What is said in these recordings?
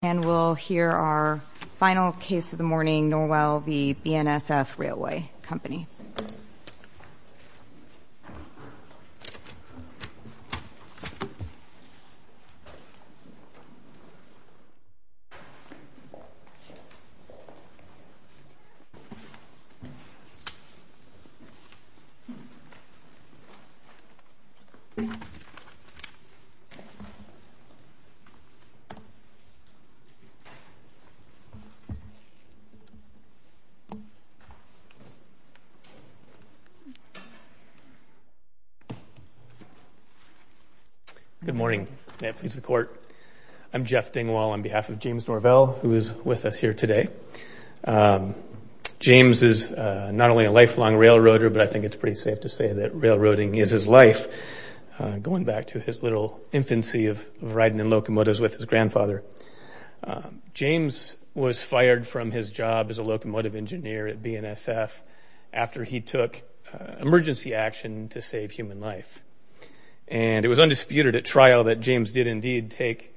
And we'll hear our final case of the morning, Norvell v. BNSF Railway Company. Good morning. I'm Jeff Dingwall on behalf of James Norvell who is with us here today. James is not only a lifelong railroader, but I think it's pretty safe to say that railroading is his life, going back to his little infancy of riding in locomotives with his grandfather. James was fired from his job as a locomotive engineer at BNSF after he took emergency action to save human life. And it was undisputed at trial that James did indeed take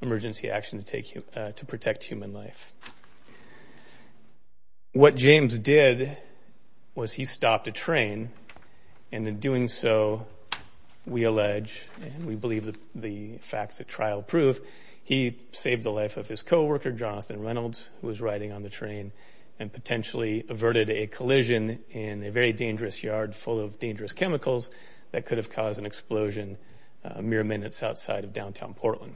emergency action to protect human life. What James did was he stopped a train and in doing so we allege, and we believe the facts at trial prove, he saved the life of his co-worker Jonathan Reynolds who was riding on the train and potentially averted a collision in a very dangerous yard full of dangerous chemicals that could have caused an explosion mere minutes outside of downtown Portland.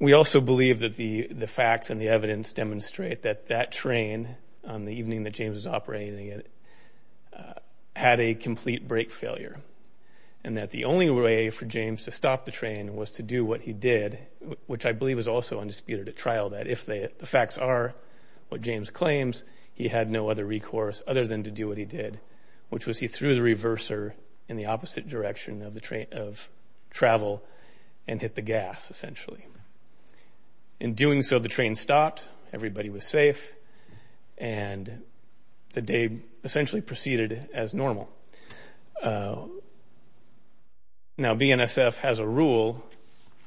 We also believe that the facts and the evidence demonstrate that that train, on the evening that James was operating it, had a complete brake failure. And that the only way for James to stop the train was to do what he did, which I believe is also undisputed at trial, that if the facts are what James claims, he had no other recourse other than to do what he did, which was he threw the reverser in the opposite direction of travel and hit the gas essentially. In doing so, the train stopped, everybody was safe, and the day essentially proceeded as normal. Now BNSF has a rule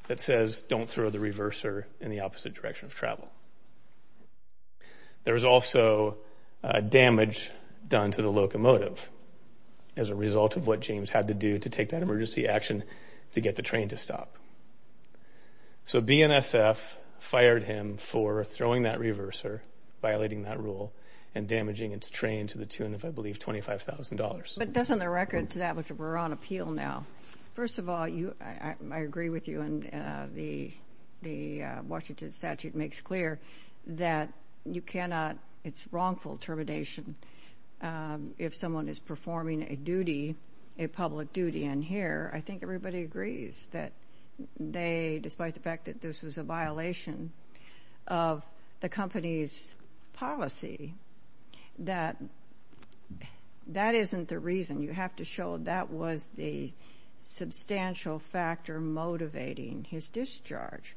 that says don't throw the reverser in the opposite direction of travel. There was also damage done to the locomotive as a result of what James had to do to take that emergency action to get the train to stop. So BNSF fired him for throwing that reverser, violating that rule, and damaging its train to the tune of, I believe, $25,000. But doesn't the record establish that we're on appeal now? First of all, I agree with you, and the Washington statute makes clear that you cannot, it's wrongful termination if someone is performing a duty, a public duty. And here, I think everybody agrees that they, despite the fact that this was a violation of the company's policy, that that isn't the reason. You have to show that was the substantial factor motivating his discharge.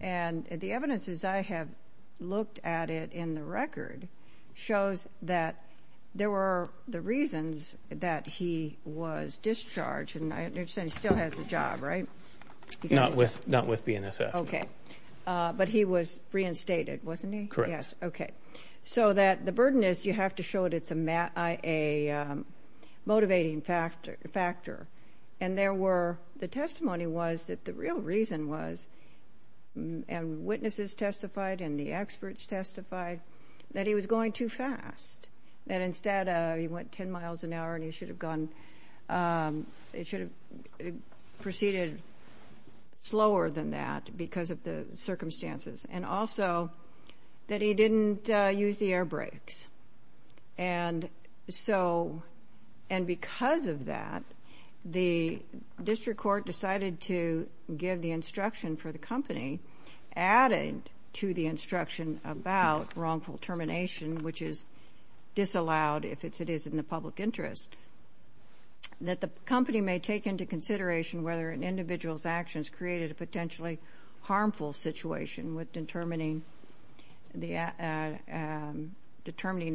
And the evidence, as I have looked at it in the record, shows that there were the reasons that he was discharged, and I understand he still has a job, right? Not with BNSF. Okay. But he was reinstated, wasn't he? Correct. Okay. So that the burden is you have to show that it's a motivating factor. And there were, the testimony was that the real reason was, and witnesses testified and the experts testified, that he was going too fast, that instead he went 10 miles an hour and he should have gone, he should have proceeded slower than that because of the circumstances, and also that he didn't use the air brakes. And so, and because of that, the district court decided to give the instruction for the company, added to the instruction about wrongful termination, which is disallowed if it is in the public interest, that the company may take into consideration whether an individual's actions created a potentially harmful situation with determining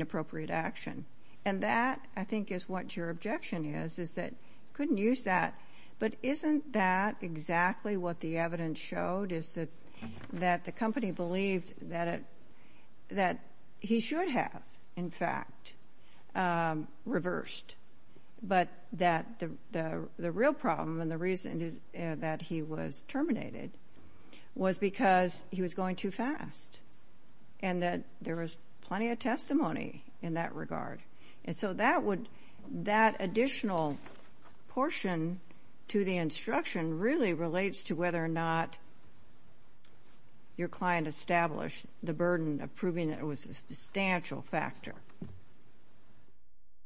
appropriate action. And that, I think, is what your objection is, is that you couldn't use that. But isn't that exactly what the evidence showed, is that the company believed that he should have, in fact, reversed, but that the real problem and the reason that he was terminated was because he was going too fast, and that there was plenty of testimony in that regard. And so that would, that additional portion to the instruction really relates to whether or not your client established the burden of proving that it was a substantial factor.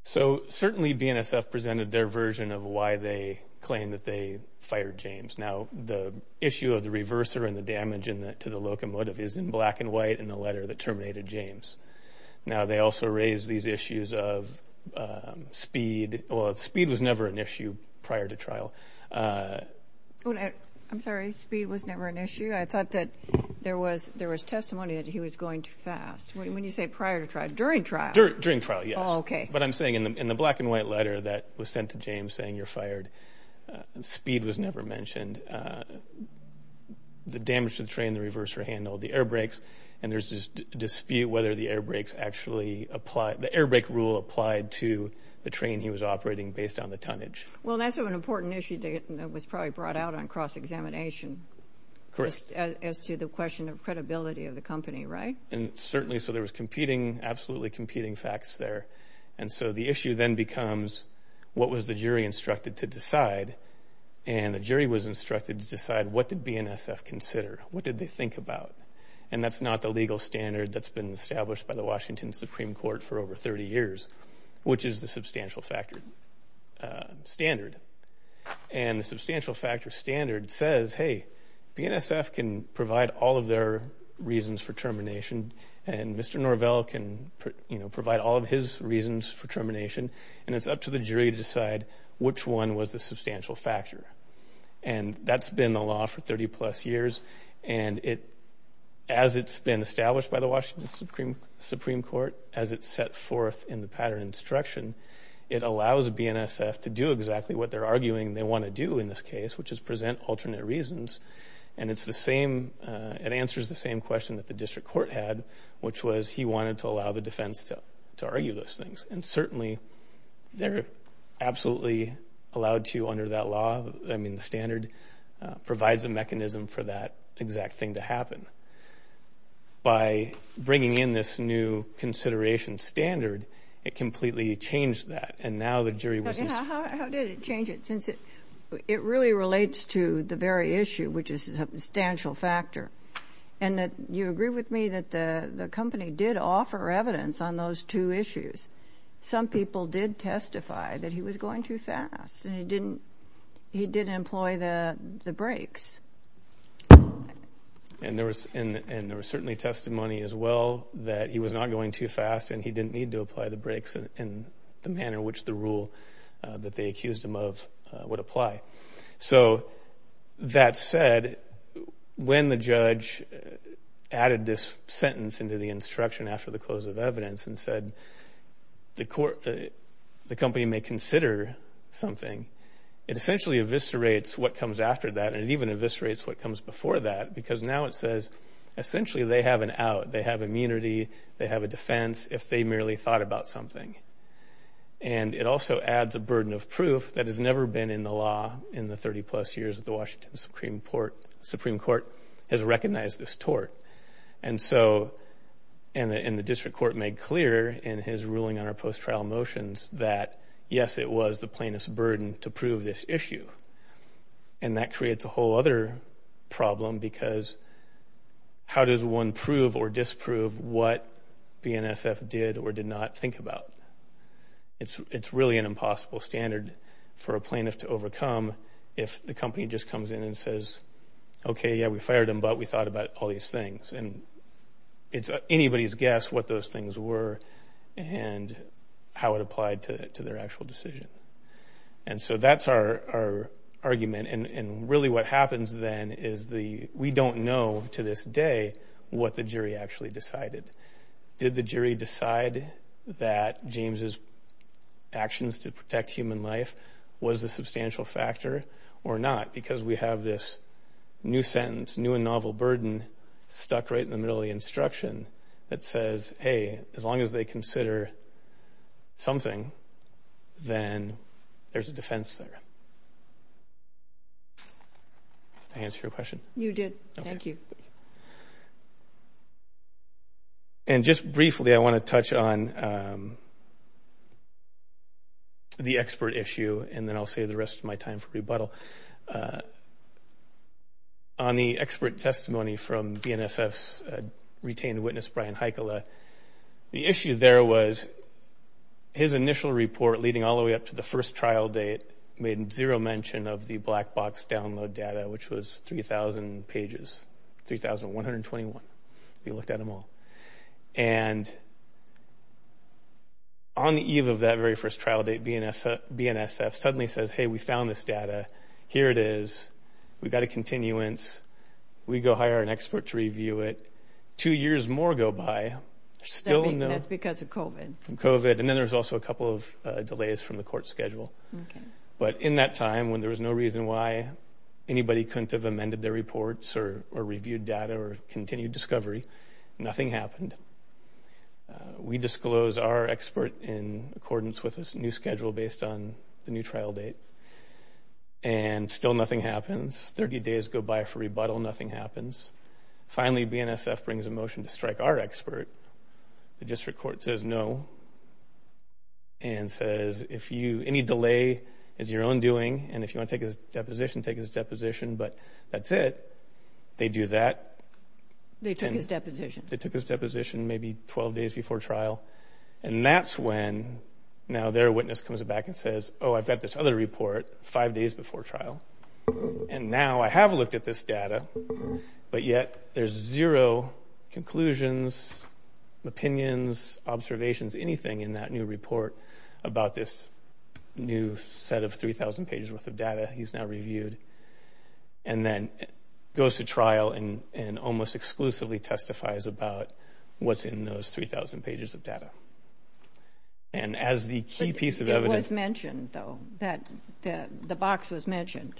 So certainly BNSF presented their version of why they claimed that they fired James. Now, the issue of the reverser and the damage to the locomotive is in black and white in the letter that terminated James. Now, they also raised these issues of speed. Well, speed was never an issue prior to trial. I'm sorry, speed was never an issue? I thought that there was testimony that he was going too fast. When you say prior to trial, during trial? During trial, yes. Oh, okay. But I'm saying in the black and white letter that was sent to James saying you're fired, speed was never mentioned. The damage to the train, the reverser handle, the air brakes, and there's this dispute whether the air brakes actually apply, the air brake rule applied to the train he was operating based on the tonnage. Well, that's an important issue that was probably brought out on cross-examination. Correct. As to the question of credibility of the company, right? And certainly so there was competing, absolutely competing facts there. And so the issue then becomes what was the jury instructed to decide? And the jury was instructed to decide what did BNSF consider? What did they think about? And that's not the legal standard that's been established by the Washington Supreme Court for over 30 years, which is the substantial factor standard. And the substantial factor standard says, hey, BNSF can provide all of their reasons for termination and Mr. Norvell can provide all of his reasons for termination, and it's up to the jury to decide which one was the substantial factor. And that's been the law for 30-plus years, and as it's been established by the Washington Supreme Court, as it's set forth in the pattern instruction, it allows BNSF to do exactly what they're arguing they want to do in this case, which is present alternate reasons. And it's the same, it answers the same question that the district court had, which was he wanted to allow the defense to argue those things. And certainly they're absolutely allowed to under that law. I mean the standard provides a mechanism for that exact thing to happen. By bringing in this new consideration standard, it completely changed that, and now the jury wasn't. How did it change it? It really relates to the very issue, which is the substantial factor. And you agree with me that the company did offer evidence on those two issues. Some people did testify that he was going too fast and he didn't employ the brakes. And there was certainly testimony as well that he was not going too fast and he didn't need to apply the brakes in the manner which the rule that they accused him of would apply. So that said, when the judge added this sentence into the instruction after the close of evidence and said the company may consider something, it essentially eviscerates what comes after that, and it even eviscerates what comes before that, because now it says essentially they have an out. They have immunity. They have a defense if they merely thought about something. And it also adds a burden of proof that has never been in the law in the 30-plus years that the Washington Supreme Court has recognized this tort. And the district court made clear in his ruling on our post-trial motions that, yes, it was the plaintiff's burden to prove this issue. And that creates a whole other problem because how does one prove or disprove what BNSF did or did not think about? It's really an impossible standard for a plaintiff to overcome if the company just comes in and says, okay, yeah, we fired him, but we thought about all these things. And it's anybody's guess what those things were and how it applied to their actual decision. And so that's our argument. And really what happens then is we don't know to this day what the jury actually decided. Did the jury decide that James's actions to protect human life was a substantial factor or not? Because we have this new sentence, new and novel burden, stuck right in the middle of the instruction that says, hey, as long as they consider something, then there's a defense there. Did I answer your question? You did. Thank you. And just briefly, I want to touch on the expert issue, and then I'll save the rest of my time for rebuttal. On the expert testimony from BNSF's retained witness, Brian Heikkila, the issue there was his initial report leading all the way up to the first trial date made zero mention of the black box download data, which was 3,000 pages, 3,121. He looked at them all. And on the eve of that very first trial date, BNSF suddenly says, hey, we found this data. Here it is. We've got a continuance. We go hire an expert to review it. Two years more go by. That's because of COVID. COVID. And then there's also a couple of delays from the court schedule. But in that time when there was no reason why anybody couldn't have amended their reports or reviewed data or continued discovery, nothing happened. We disclose our expert in accordance with this new schedule based on the new trial date, and still nothing happens. Thirty days go by for rebuttal. Nothing happens. Finally, BNSF brings a motion to strike our expert. The district court says no and says, any delay is your own doing, and if you want to take a deposition, take his deposition, but that's it. They do that. They took his deposition. They took his deposition maybe 12 days before trial, and that's when now their witness comes back and says, oh, I've got this other report five days before trial, and now I have looked at this data, but yet there's zero conclusions, opinions, observations, anything in that new report about this new set of 3,000 pages worth of data he's now reviewed, and then goes to trial and almost exclusively testifies about what's in those 3,000 pages of data. And as the key piece of evidence. It was mentioned, though, that the box was mentioned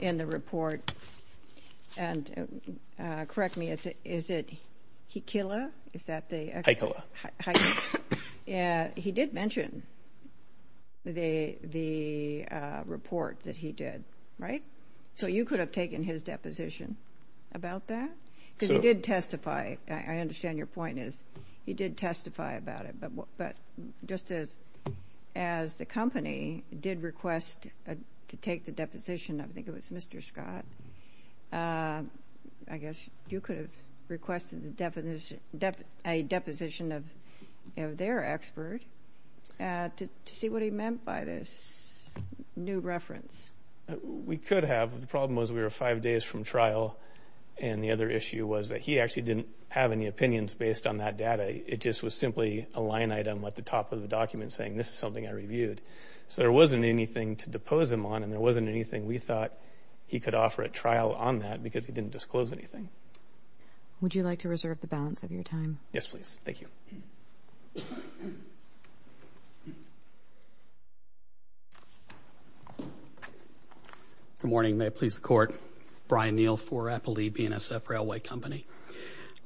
in the report, and correct me, is it Hikila? Is that the? Hikila. He did mention the report that he did, right? So you could have taken his deposition about that because he did testify. I understand your point is he did testify about it, but just as the company did request to take the deposition, I think it was Mr. Scott, I guess you could have requested a deposition of their expert to see what he meant by this new reference. We could have. The problem was we were five days from trial, and the other issue was that he actually didn't have any opinions based on that data. It just was simply a line item at the top of the document saying this is something I reviewed. So there wasn't anything to depose him on, and there wasn't anything we thought he could offer at trial on that because he didn't disclose anything. Would you like to reserve the balance of your time? Yes, please. Thank you. Good morning. May it please the Court. Brian Neal for Applebee, BNSF Railway Company.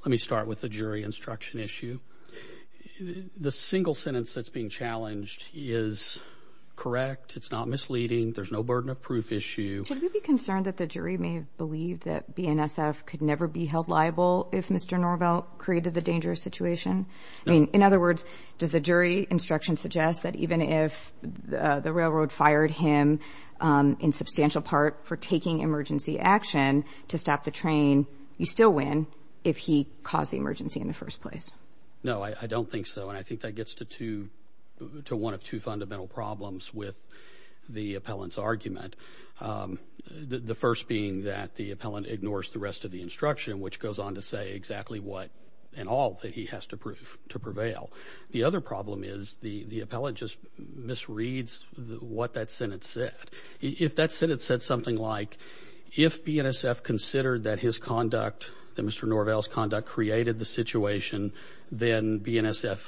Let me start with the jury instruction issue. The single sentence that's being challenged is correct. It's not misleading. There's no burden of proof issue. Should we be concerned that the jury may believe that BNSF could never be held liable if Mr. Norvell created the dangerous situation? No. In other words, does the jury instruction suggest that even if the railroad fired him in substantial part for taking emergency action to stop the train, you still win if he caused the emergency in the first place? No, I don't think so. And I think that gets to one of two fundamental problems with the appellant's argument, the first being that the appellant ignores the rest of the instruction, which goes on to say exactly what and all that he has to prove to prevail. The other problem is the appellant just misreads what that sentence said. If that sentence said something like, if BNSF considered that his conduct, that Mr. Norvell's conduct created the situation, then BNSF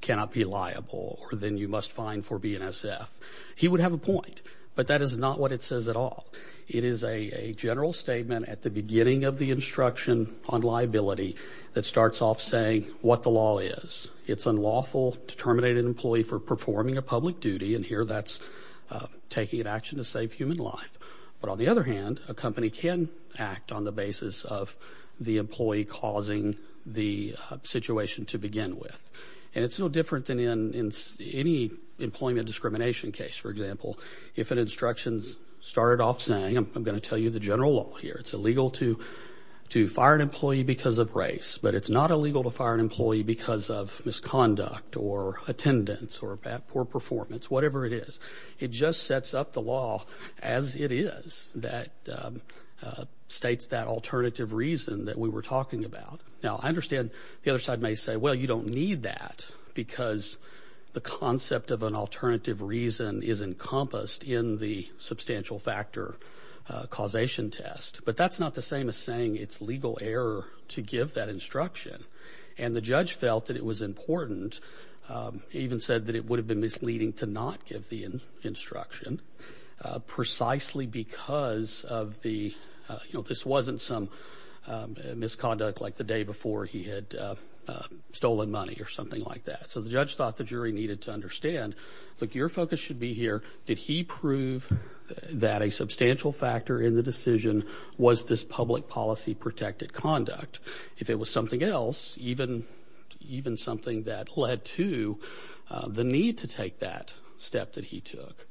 cannot be liable or then you must fine for BNSF, he would have a point. But that is not what it says at all. It is a general statement at the beginning of the instruction on liability that starts off saying what the law is. It's unlawful to terminate an employee for performing a public duty, and here that's taking an action to save human life. But on the other hand, a company can act on the basis of the employee causing the situation to begin with. And it's no different than in any employment discrimination case, for example. If an instruction started off saying, I'm going to tell you the general law here, it's illegal to fire an employee because of race, but it's not illegal to fire an employee because of misconduct or attendance or poor performance, whatever it is. It just sets up the law as it is that states that alternative reason that we were talking about. Now, I understand the other side may say, well, you don't need that, because the concept of an alternative reason is encompassed in the substantial factor causation test. But that's not the same as saying it's legal error to give that instruction. And the judge felt that it was important. He even said that it would have been misleading to not give the instruction precisely because of the, you know, this wasn't some misconduct like the day before he had stolen money or something like that. So the judge thought the jury needed to understand, look, your focus should be here. Did he prove that a substantial factor in the decision was this public policy protected conduct? If it was something else, even something that led to the need to take that step that he took,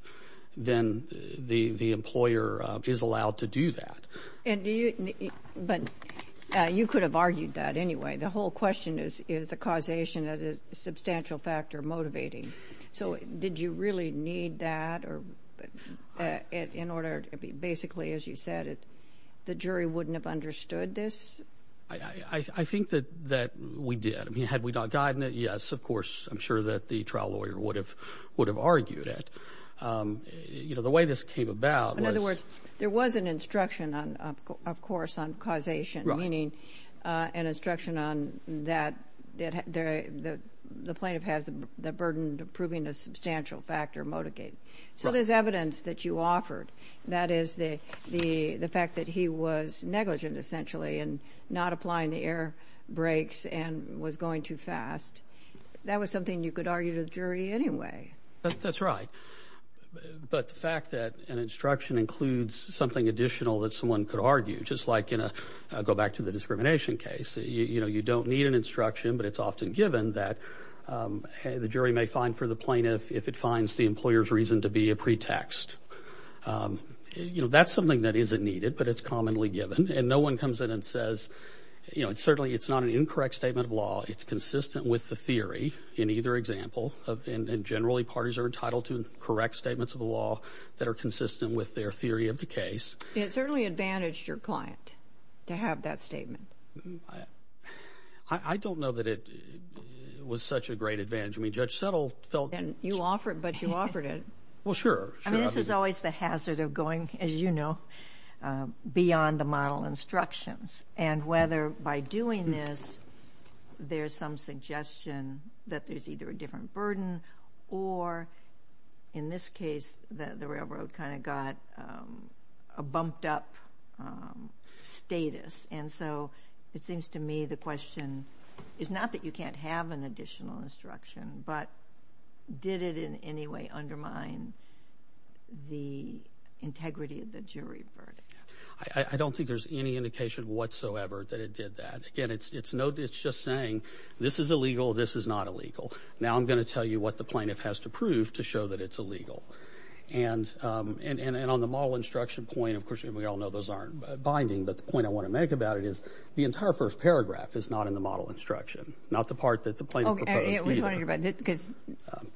then the employer is allowed to do that. But you could have argued that anyway. The whole question is, is the causation of the substantial factor motivating? So did you really need that in order to basically, as you said, the jury wouldn't have understood this? I think that we did. I mean, had we not gotten it, yes, of course, I'm sure that the trial lawyer would have argued it. You know, the way this came about was— In other words, there was an instruction, of course, on causation, meaning an instruction on that the plaintiff has the burden of proving a substantial factor motivating. So there's evidence that you offered, that is, the fact that he was negligent essentially and not applying the air brakes and was going too fast. That was something you could argue to the jury anyway. That's right. But the fact that an instruction includes something additional that someone could argue, just like in a—go back to the discrimination case. You know, you don't need an instruction, but it's often given that the jury may find for the plaintiff if it finds the employer's reason to be a pretext. You know, that's something that isn't needed, but it's commonly given. And no one comes in and says, you know, certainly it's not an incorrect statement of law. It's consistent with the theory in either example. And generally, parties are entitled to correct statements of the law that are consistent with their theory of the case. It certainly advantaged your client to have that statement. I don't know that it was such a great advantage. I mean, Judge Settle felt— You offered it, but you offered it. Well, sure. I mean, this is always the hazard of going, as you know, beyond the model instructions. And whether by doing this there's some suggestion that there's either a different burden or, in this case, the railroad kind of got a bumped-up status. And so it seems to me the question is not that you can't have an additional instruction, but did it in any way undermine the integrity of the jury verdict? I don't think there's any indication whatsoever that it did that. Again, it's no—it's just saying this is illegal, this is not illegal. Now I'm going to tell you what the plaintiff has to prove to show that it's illegal. And on the model instruction point, of course, we all know those aren't binding, but the point I want to make about it is the entire first paragraph is not in the model instruction, not the part that the plaintiff proposed either.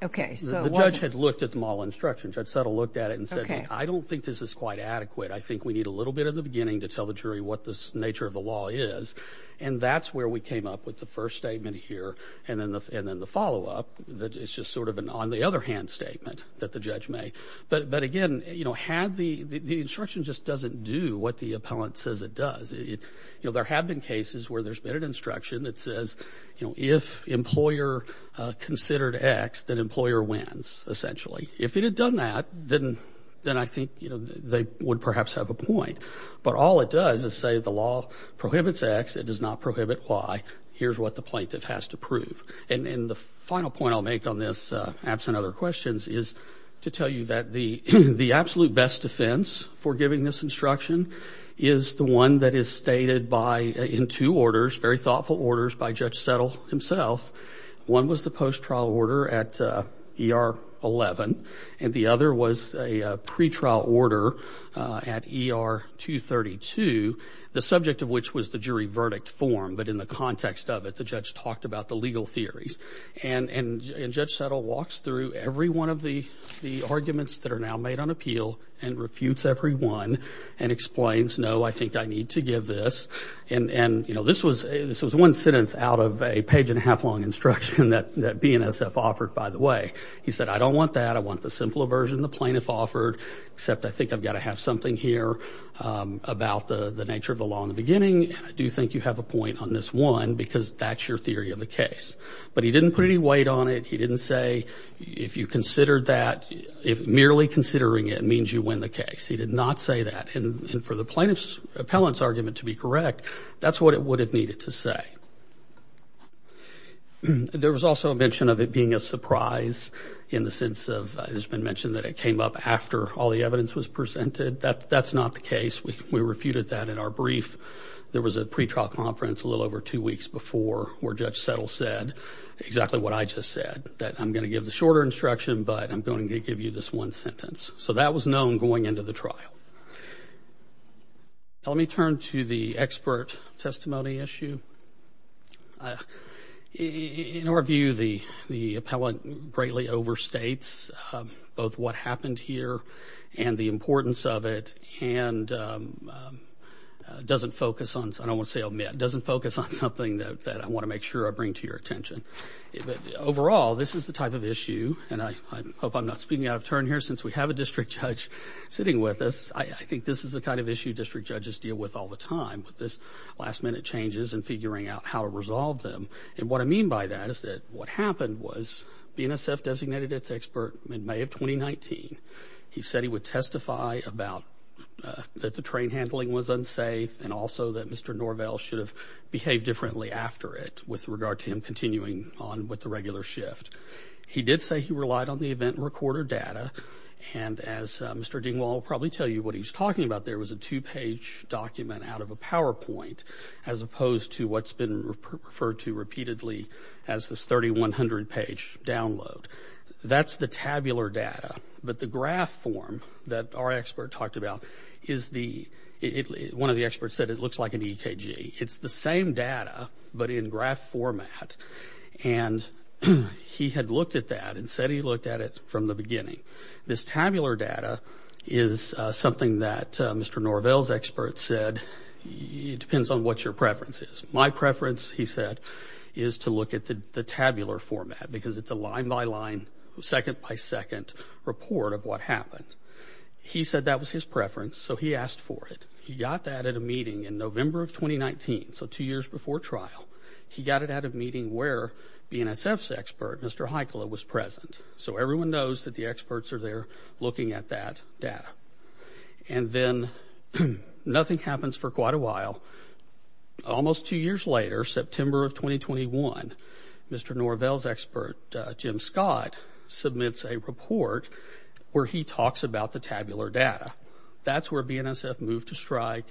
Okay. The judge had looked at the model instruction. Judge Settle looked at it and said, I don't think this is quite adequate. I think we need a little bit at the beginning to tell the jury what the nature of the law is. And that's where we came up with the first statement here and then the follow-up. It's just sort of an on-the-other-hand statement that the judge made. But, again, you know, had the—the instruction just doesn't do what the appellant says it does. You know, there have been cases where there's been an instruction that says, you know, if employer considered X, then employer wins, essentially. If it had done that, then I think, you know, they would perhaps have a point. But all it does is say the law prohibits X. It does not prohibit Y. Here's what the plaintiff has to prove. And the final point I'll make on this, absent other questions, is to tell you that the absolute best defense for giving this instruction is the one that is stated by— in two orders, very thoughtful orders by Judge Settle himself. One was the post-trial order at ER 11, and the other was a pretrial order at ER 232, the subject of which was the jury verdict form. But in the context of it, the judge talked about the legal theories. And Judge Settle walks through every one of the arguments that are now made on appeal and refutes every one and explains, no, I think I need to give this. And, you know, this was one sentence out of a page-and-a-half long instruction that BNSF offered, by the way. He said, I don't want that. I want the simpler version the plaintiff offered, except I think I've got to have something here about the nature of the law in the beginning, and I do think you have a point on this one because that's your theory of the case. But he didn't put any weight on it. He didn't say, if you considered that, if merely considering it means you win the case. He did not say that. And for the plaintiff's appellant's argument to be correct, that's what it would have needed to say. There was also a mention of it being a surprise in the sense of, it has been mentioned that it came up after all the evidence was presented. That's not the case. We refuted that in our brief. There was a pretrial conference a little over two weeks before where Judge Settle said exactly what I just said, that I'm going to give the shorter instruction, but I'm going to give you this one sentence. So that was known going into the trial. Let me turn to the expert testimony issue. In our view, the appellant greatly overstates both what happened here and the importance of it and doesn't focus on, I don't want to say omit, doesn't focus on something that I want to make sure I bring to your attention. Overall, this is the type of issue, and I hope I'm not speeding out of turn here since we have a district judge sitting with us. I think this is the kind of issue district judges deal with all the time, with this last-minute changes and figuring out how to resolve them. And what I mean by that is that what happened was BNSF designated its expert in May of 2019. He said he would testify about that the train handling was unsafe and also that Mr. Norvell should have behaved differently after it with regard to him continuing on with the regular shift. He did say he relied on the event recorder data. And as Mr. Dingwall will probably tell you what he was talking about, there was a two-page document out of a PowerPoint as opposed to what's been referred to repeatedly as this 3,100-page download. That's the tabular data. But the graph form that our expert talked about is the – one of the experts said it looks like an EKG. It's the same data but in graph format. And he had looked at that and said he looked at it from the beginning. This tabular data is something that Mr. Norvell's expert said, it depends on what your preference is. My preference, he said, is to look at the tabular format because it's a line-by-line, second-by-second report of what happened. He said that was his preference, so he asked for it. He got that at a meeting in November of 2019, so two years before trial. He got it at a meeting where BNSF's expert, Mr. Heikkila, was present. So everyone knows that the experts are there looking at that data. And then nothing happens for quite a while. Almost two years later, September of 2021, Mr. Norvell's expert, Jim Scott, submits a report where he talks about the tabular data. That's where BNSF moved to strike.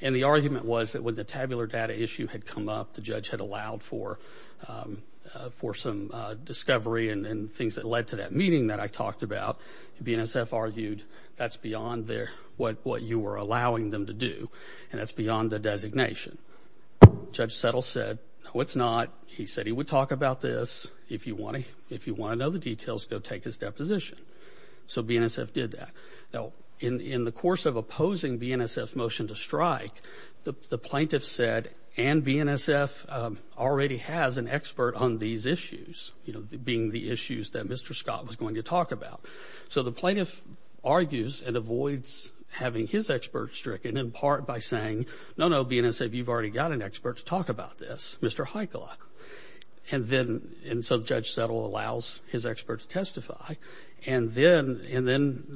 And the argument was that when the tabular data issue had come up, the judge had allowed for some discovery and things that led to that meeting that I talked about, BNSF argued that's beyond what you were allowing them to do and that's beyond the designation. Judge Settle said, no, it's not. He said he would talk about this. If you want to know the details, go take his deposition. So BNSF did that. Now, in the course of opposing BNSF's motion to strike, the plaintiff said, and BNSF already has an expert on these issues, you know, being the issues that Mr. Scott was going to talk about. So the plaintiff argues and avoids having his expert stricken in part by saying, no, no, BNSF, you've already got an expert to talk about this, Mr. Heikkila. And then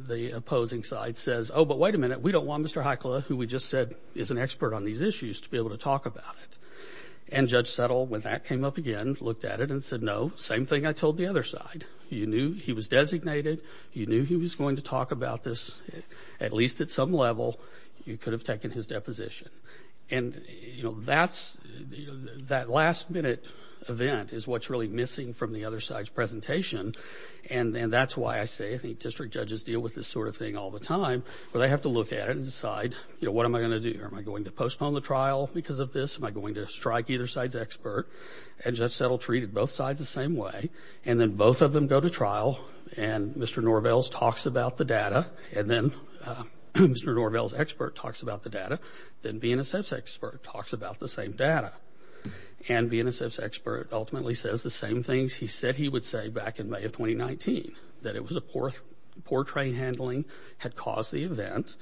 the opposing side says, oh, but wait a minute, we don't want Mr. Heikkila, who we just said is an expert on these issues, to be able to talk about it. And Judge Settle, when that came up again, looked at it and said, no, same thing I told the other side. You knew he was designated. You knew he was going to talk about this. At least at some level, you could have taken his deposition. And, you know, that last-minute event is what's really missing from the other side's presentation and then that's why I say I think district judges deal with this sort of thing all the time where they have to look at it and decide, you know, what am I going to do? Am I going to postpone the trial because of this? Am I going to strike either side's expert? And Judge Settle treated both sides the same way. And then both of them go to trial and Mr. Norvell talks about the data and then Mr. Norvell's expert talks about the data. Then BNSF's expert talks about the same data. And BNSF's expert ultimately says the same things he said he would say back in May of 2019, that it was a poor train handling had caused the event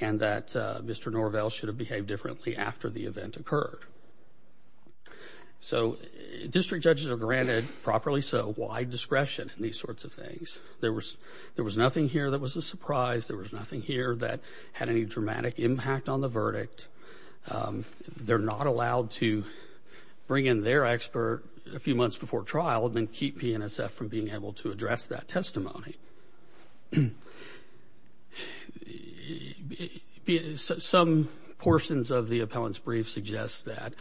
and that Mr. Norvell should have behaved differently after the event occurred. So district judges are granted, properly so, wide discretion in these sorts of things. There was nothing here that was a surprise. There was nothing here that had any dramatic impact on the verdict. They're not allowed to bring in their expert a few months before trial and then keep BNSF from being able to address that testimony. Some portions of the appellant's brief suggest that,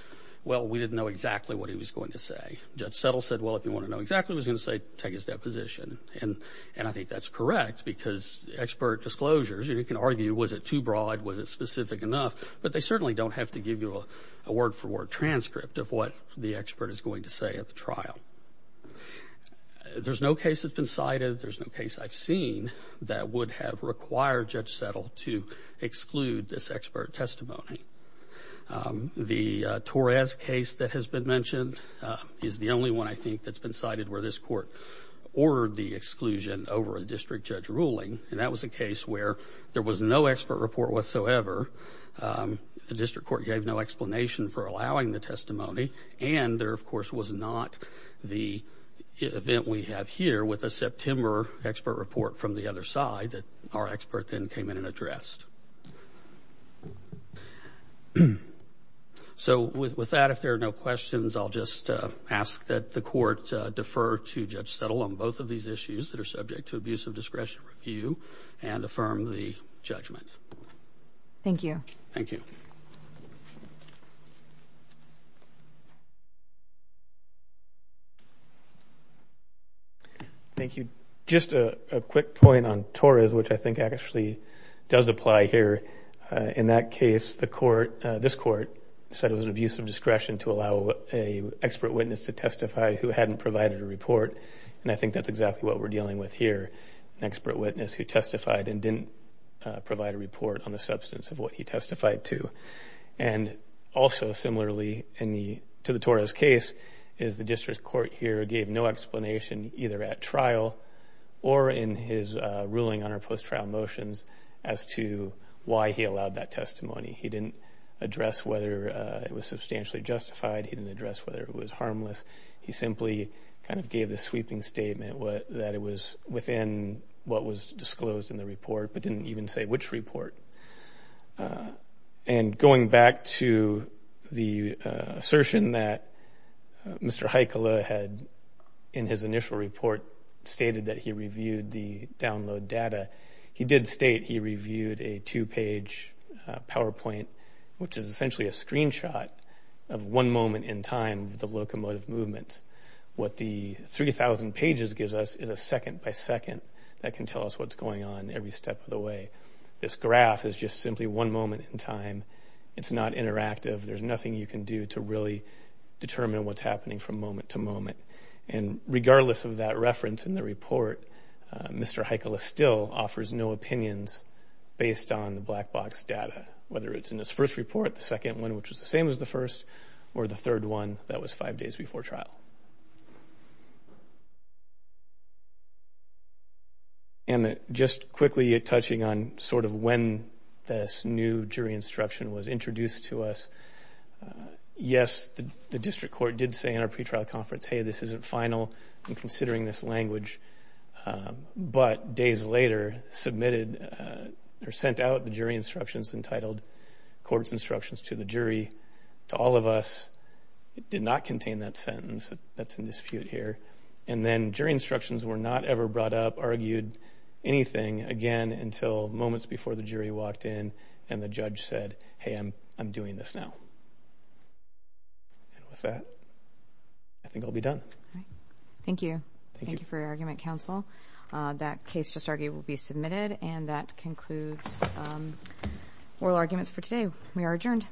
well, we didn't know exactly what he was going to say. Judge Settle said, well, if you want to know exactly what he was going to say, take his deposition. And I think that's correct because expert disclosures, you can argue, was it too broad? Was it specific enough? But they certainly don't have to give you a word-for-word transcript of what the expert is going to say at the trial. There's no case that's been cited, there's no case I've seen, that would have required Judge Settle to exclude this expert testimony. The Torres case that has been mentioned is the only one, I think, that's been cited where this court ordered the exclusion over a district judge ruling, and that was a case where there was no expert report whatsoever. The district court gave no explanation for allowing the testimony, and there, of course, was not the event we have here with a September expert report from the other side that our expert then came in and addressed. So with that, if there are no questions, I'll just ask that the court defer to Judge Settle on both of these issues that are subject to abuse of discretion review and affirm the judgment. Thank you. Thank you. Thank you. Just a quick point on Torres, which I think actually does apply here. In that case, this court said it was an abuse of discretion And I think that's exactly what we're dealing with here, an expert witness who testified and didn't provide a report on the substance of what he testified to. And also similarly to the Torres case is the district court here gave no explanation either at trial or in his ruling on our post-trial motions as to why he allowed that testimony. He didn't address whether it was substantially justified. He didn't address whether it was harmless. He simply kind of gave the sweeping statement that it was within what was disclosed in the report but didn't even say which report. And going back to the assertion that Mr. Heikkila had in his initial report stated that he reviewed the download data, he did state he reviewed a two-page PowerPoint, which is essentially a screenshot of one moment in time of the locomotive movements. What the 3,000 pages gives us is a second-by-second that can tell us what's going on every step of the way. This graph is just simply one moment in time. It's not interactive. There's nothing you can do to really determine what's happening from moment to moment. And regardless of that reference in the report, Mr. Heikkila still offers no opinions based on the black box data, whether it's in his first report, the second one, which was the same as the first, or the third one that was five days before trial. And just quickly touching on sort of when this new jury instruction was introduced to us, yes, the district court did say in our pretrial conference, hey, this isn't final. I'm considering this language. But days later submitted or sent out the jury instructions entitled courts instructions to the jury. To all of us, it did not contain that sentence. That's in dispute here. And then jury instructions were not ever brought up, argued anything, again, until moments before the jury walked in and the judge said, hey, I'm doing this now. And with that, I think I'll be done. Thank you. Thank you for your argument, counsel. That case just argued will be submitted. And that concludes oral arguments for today. We are adjourned.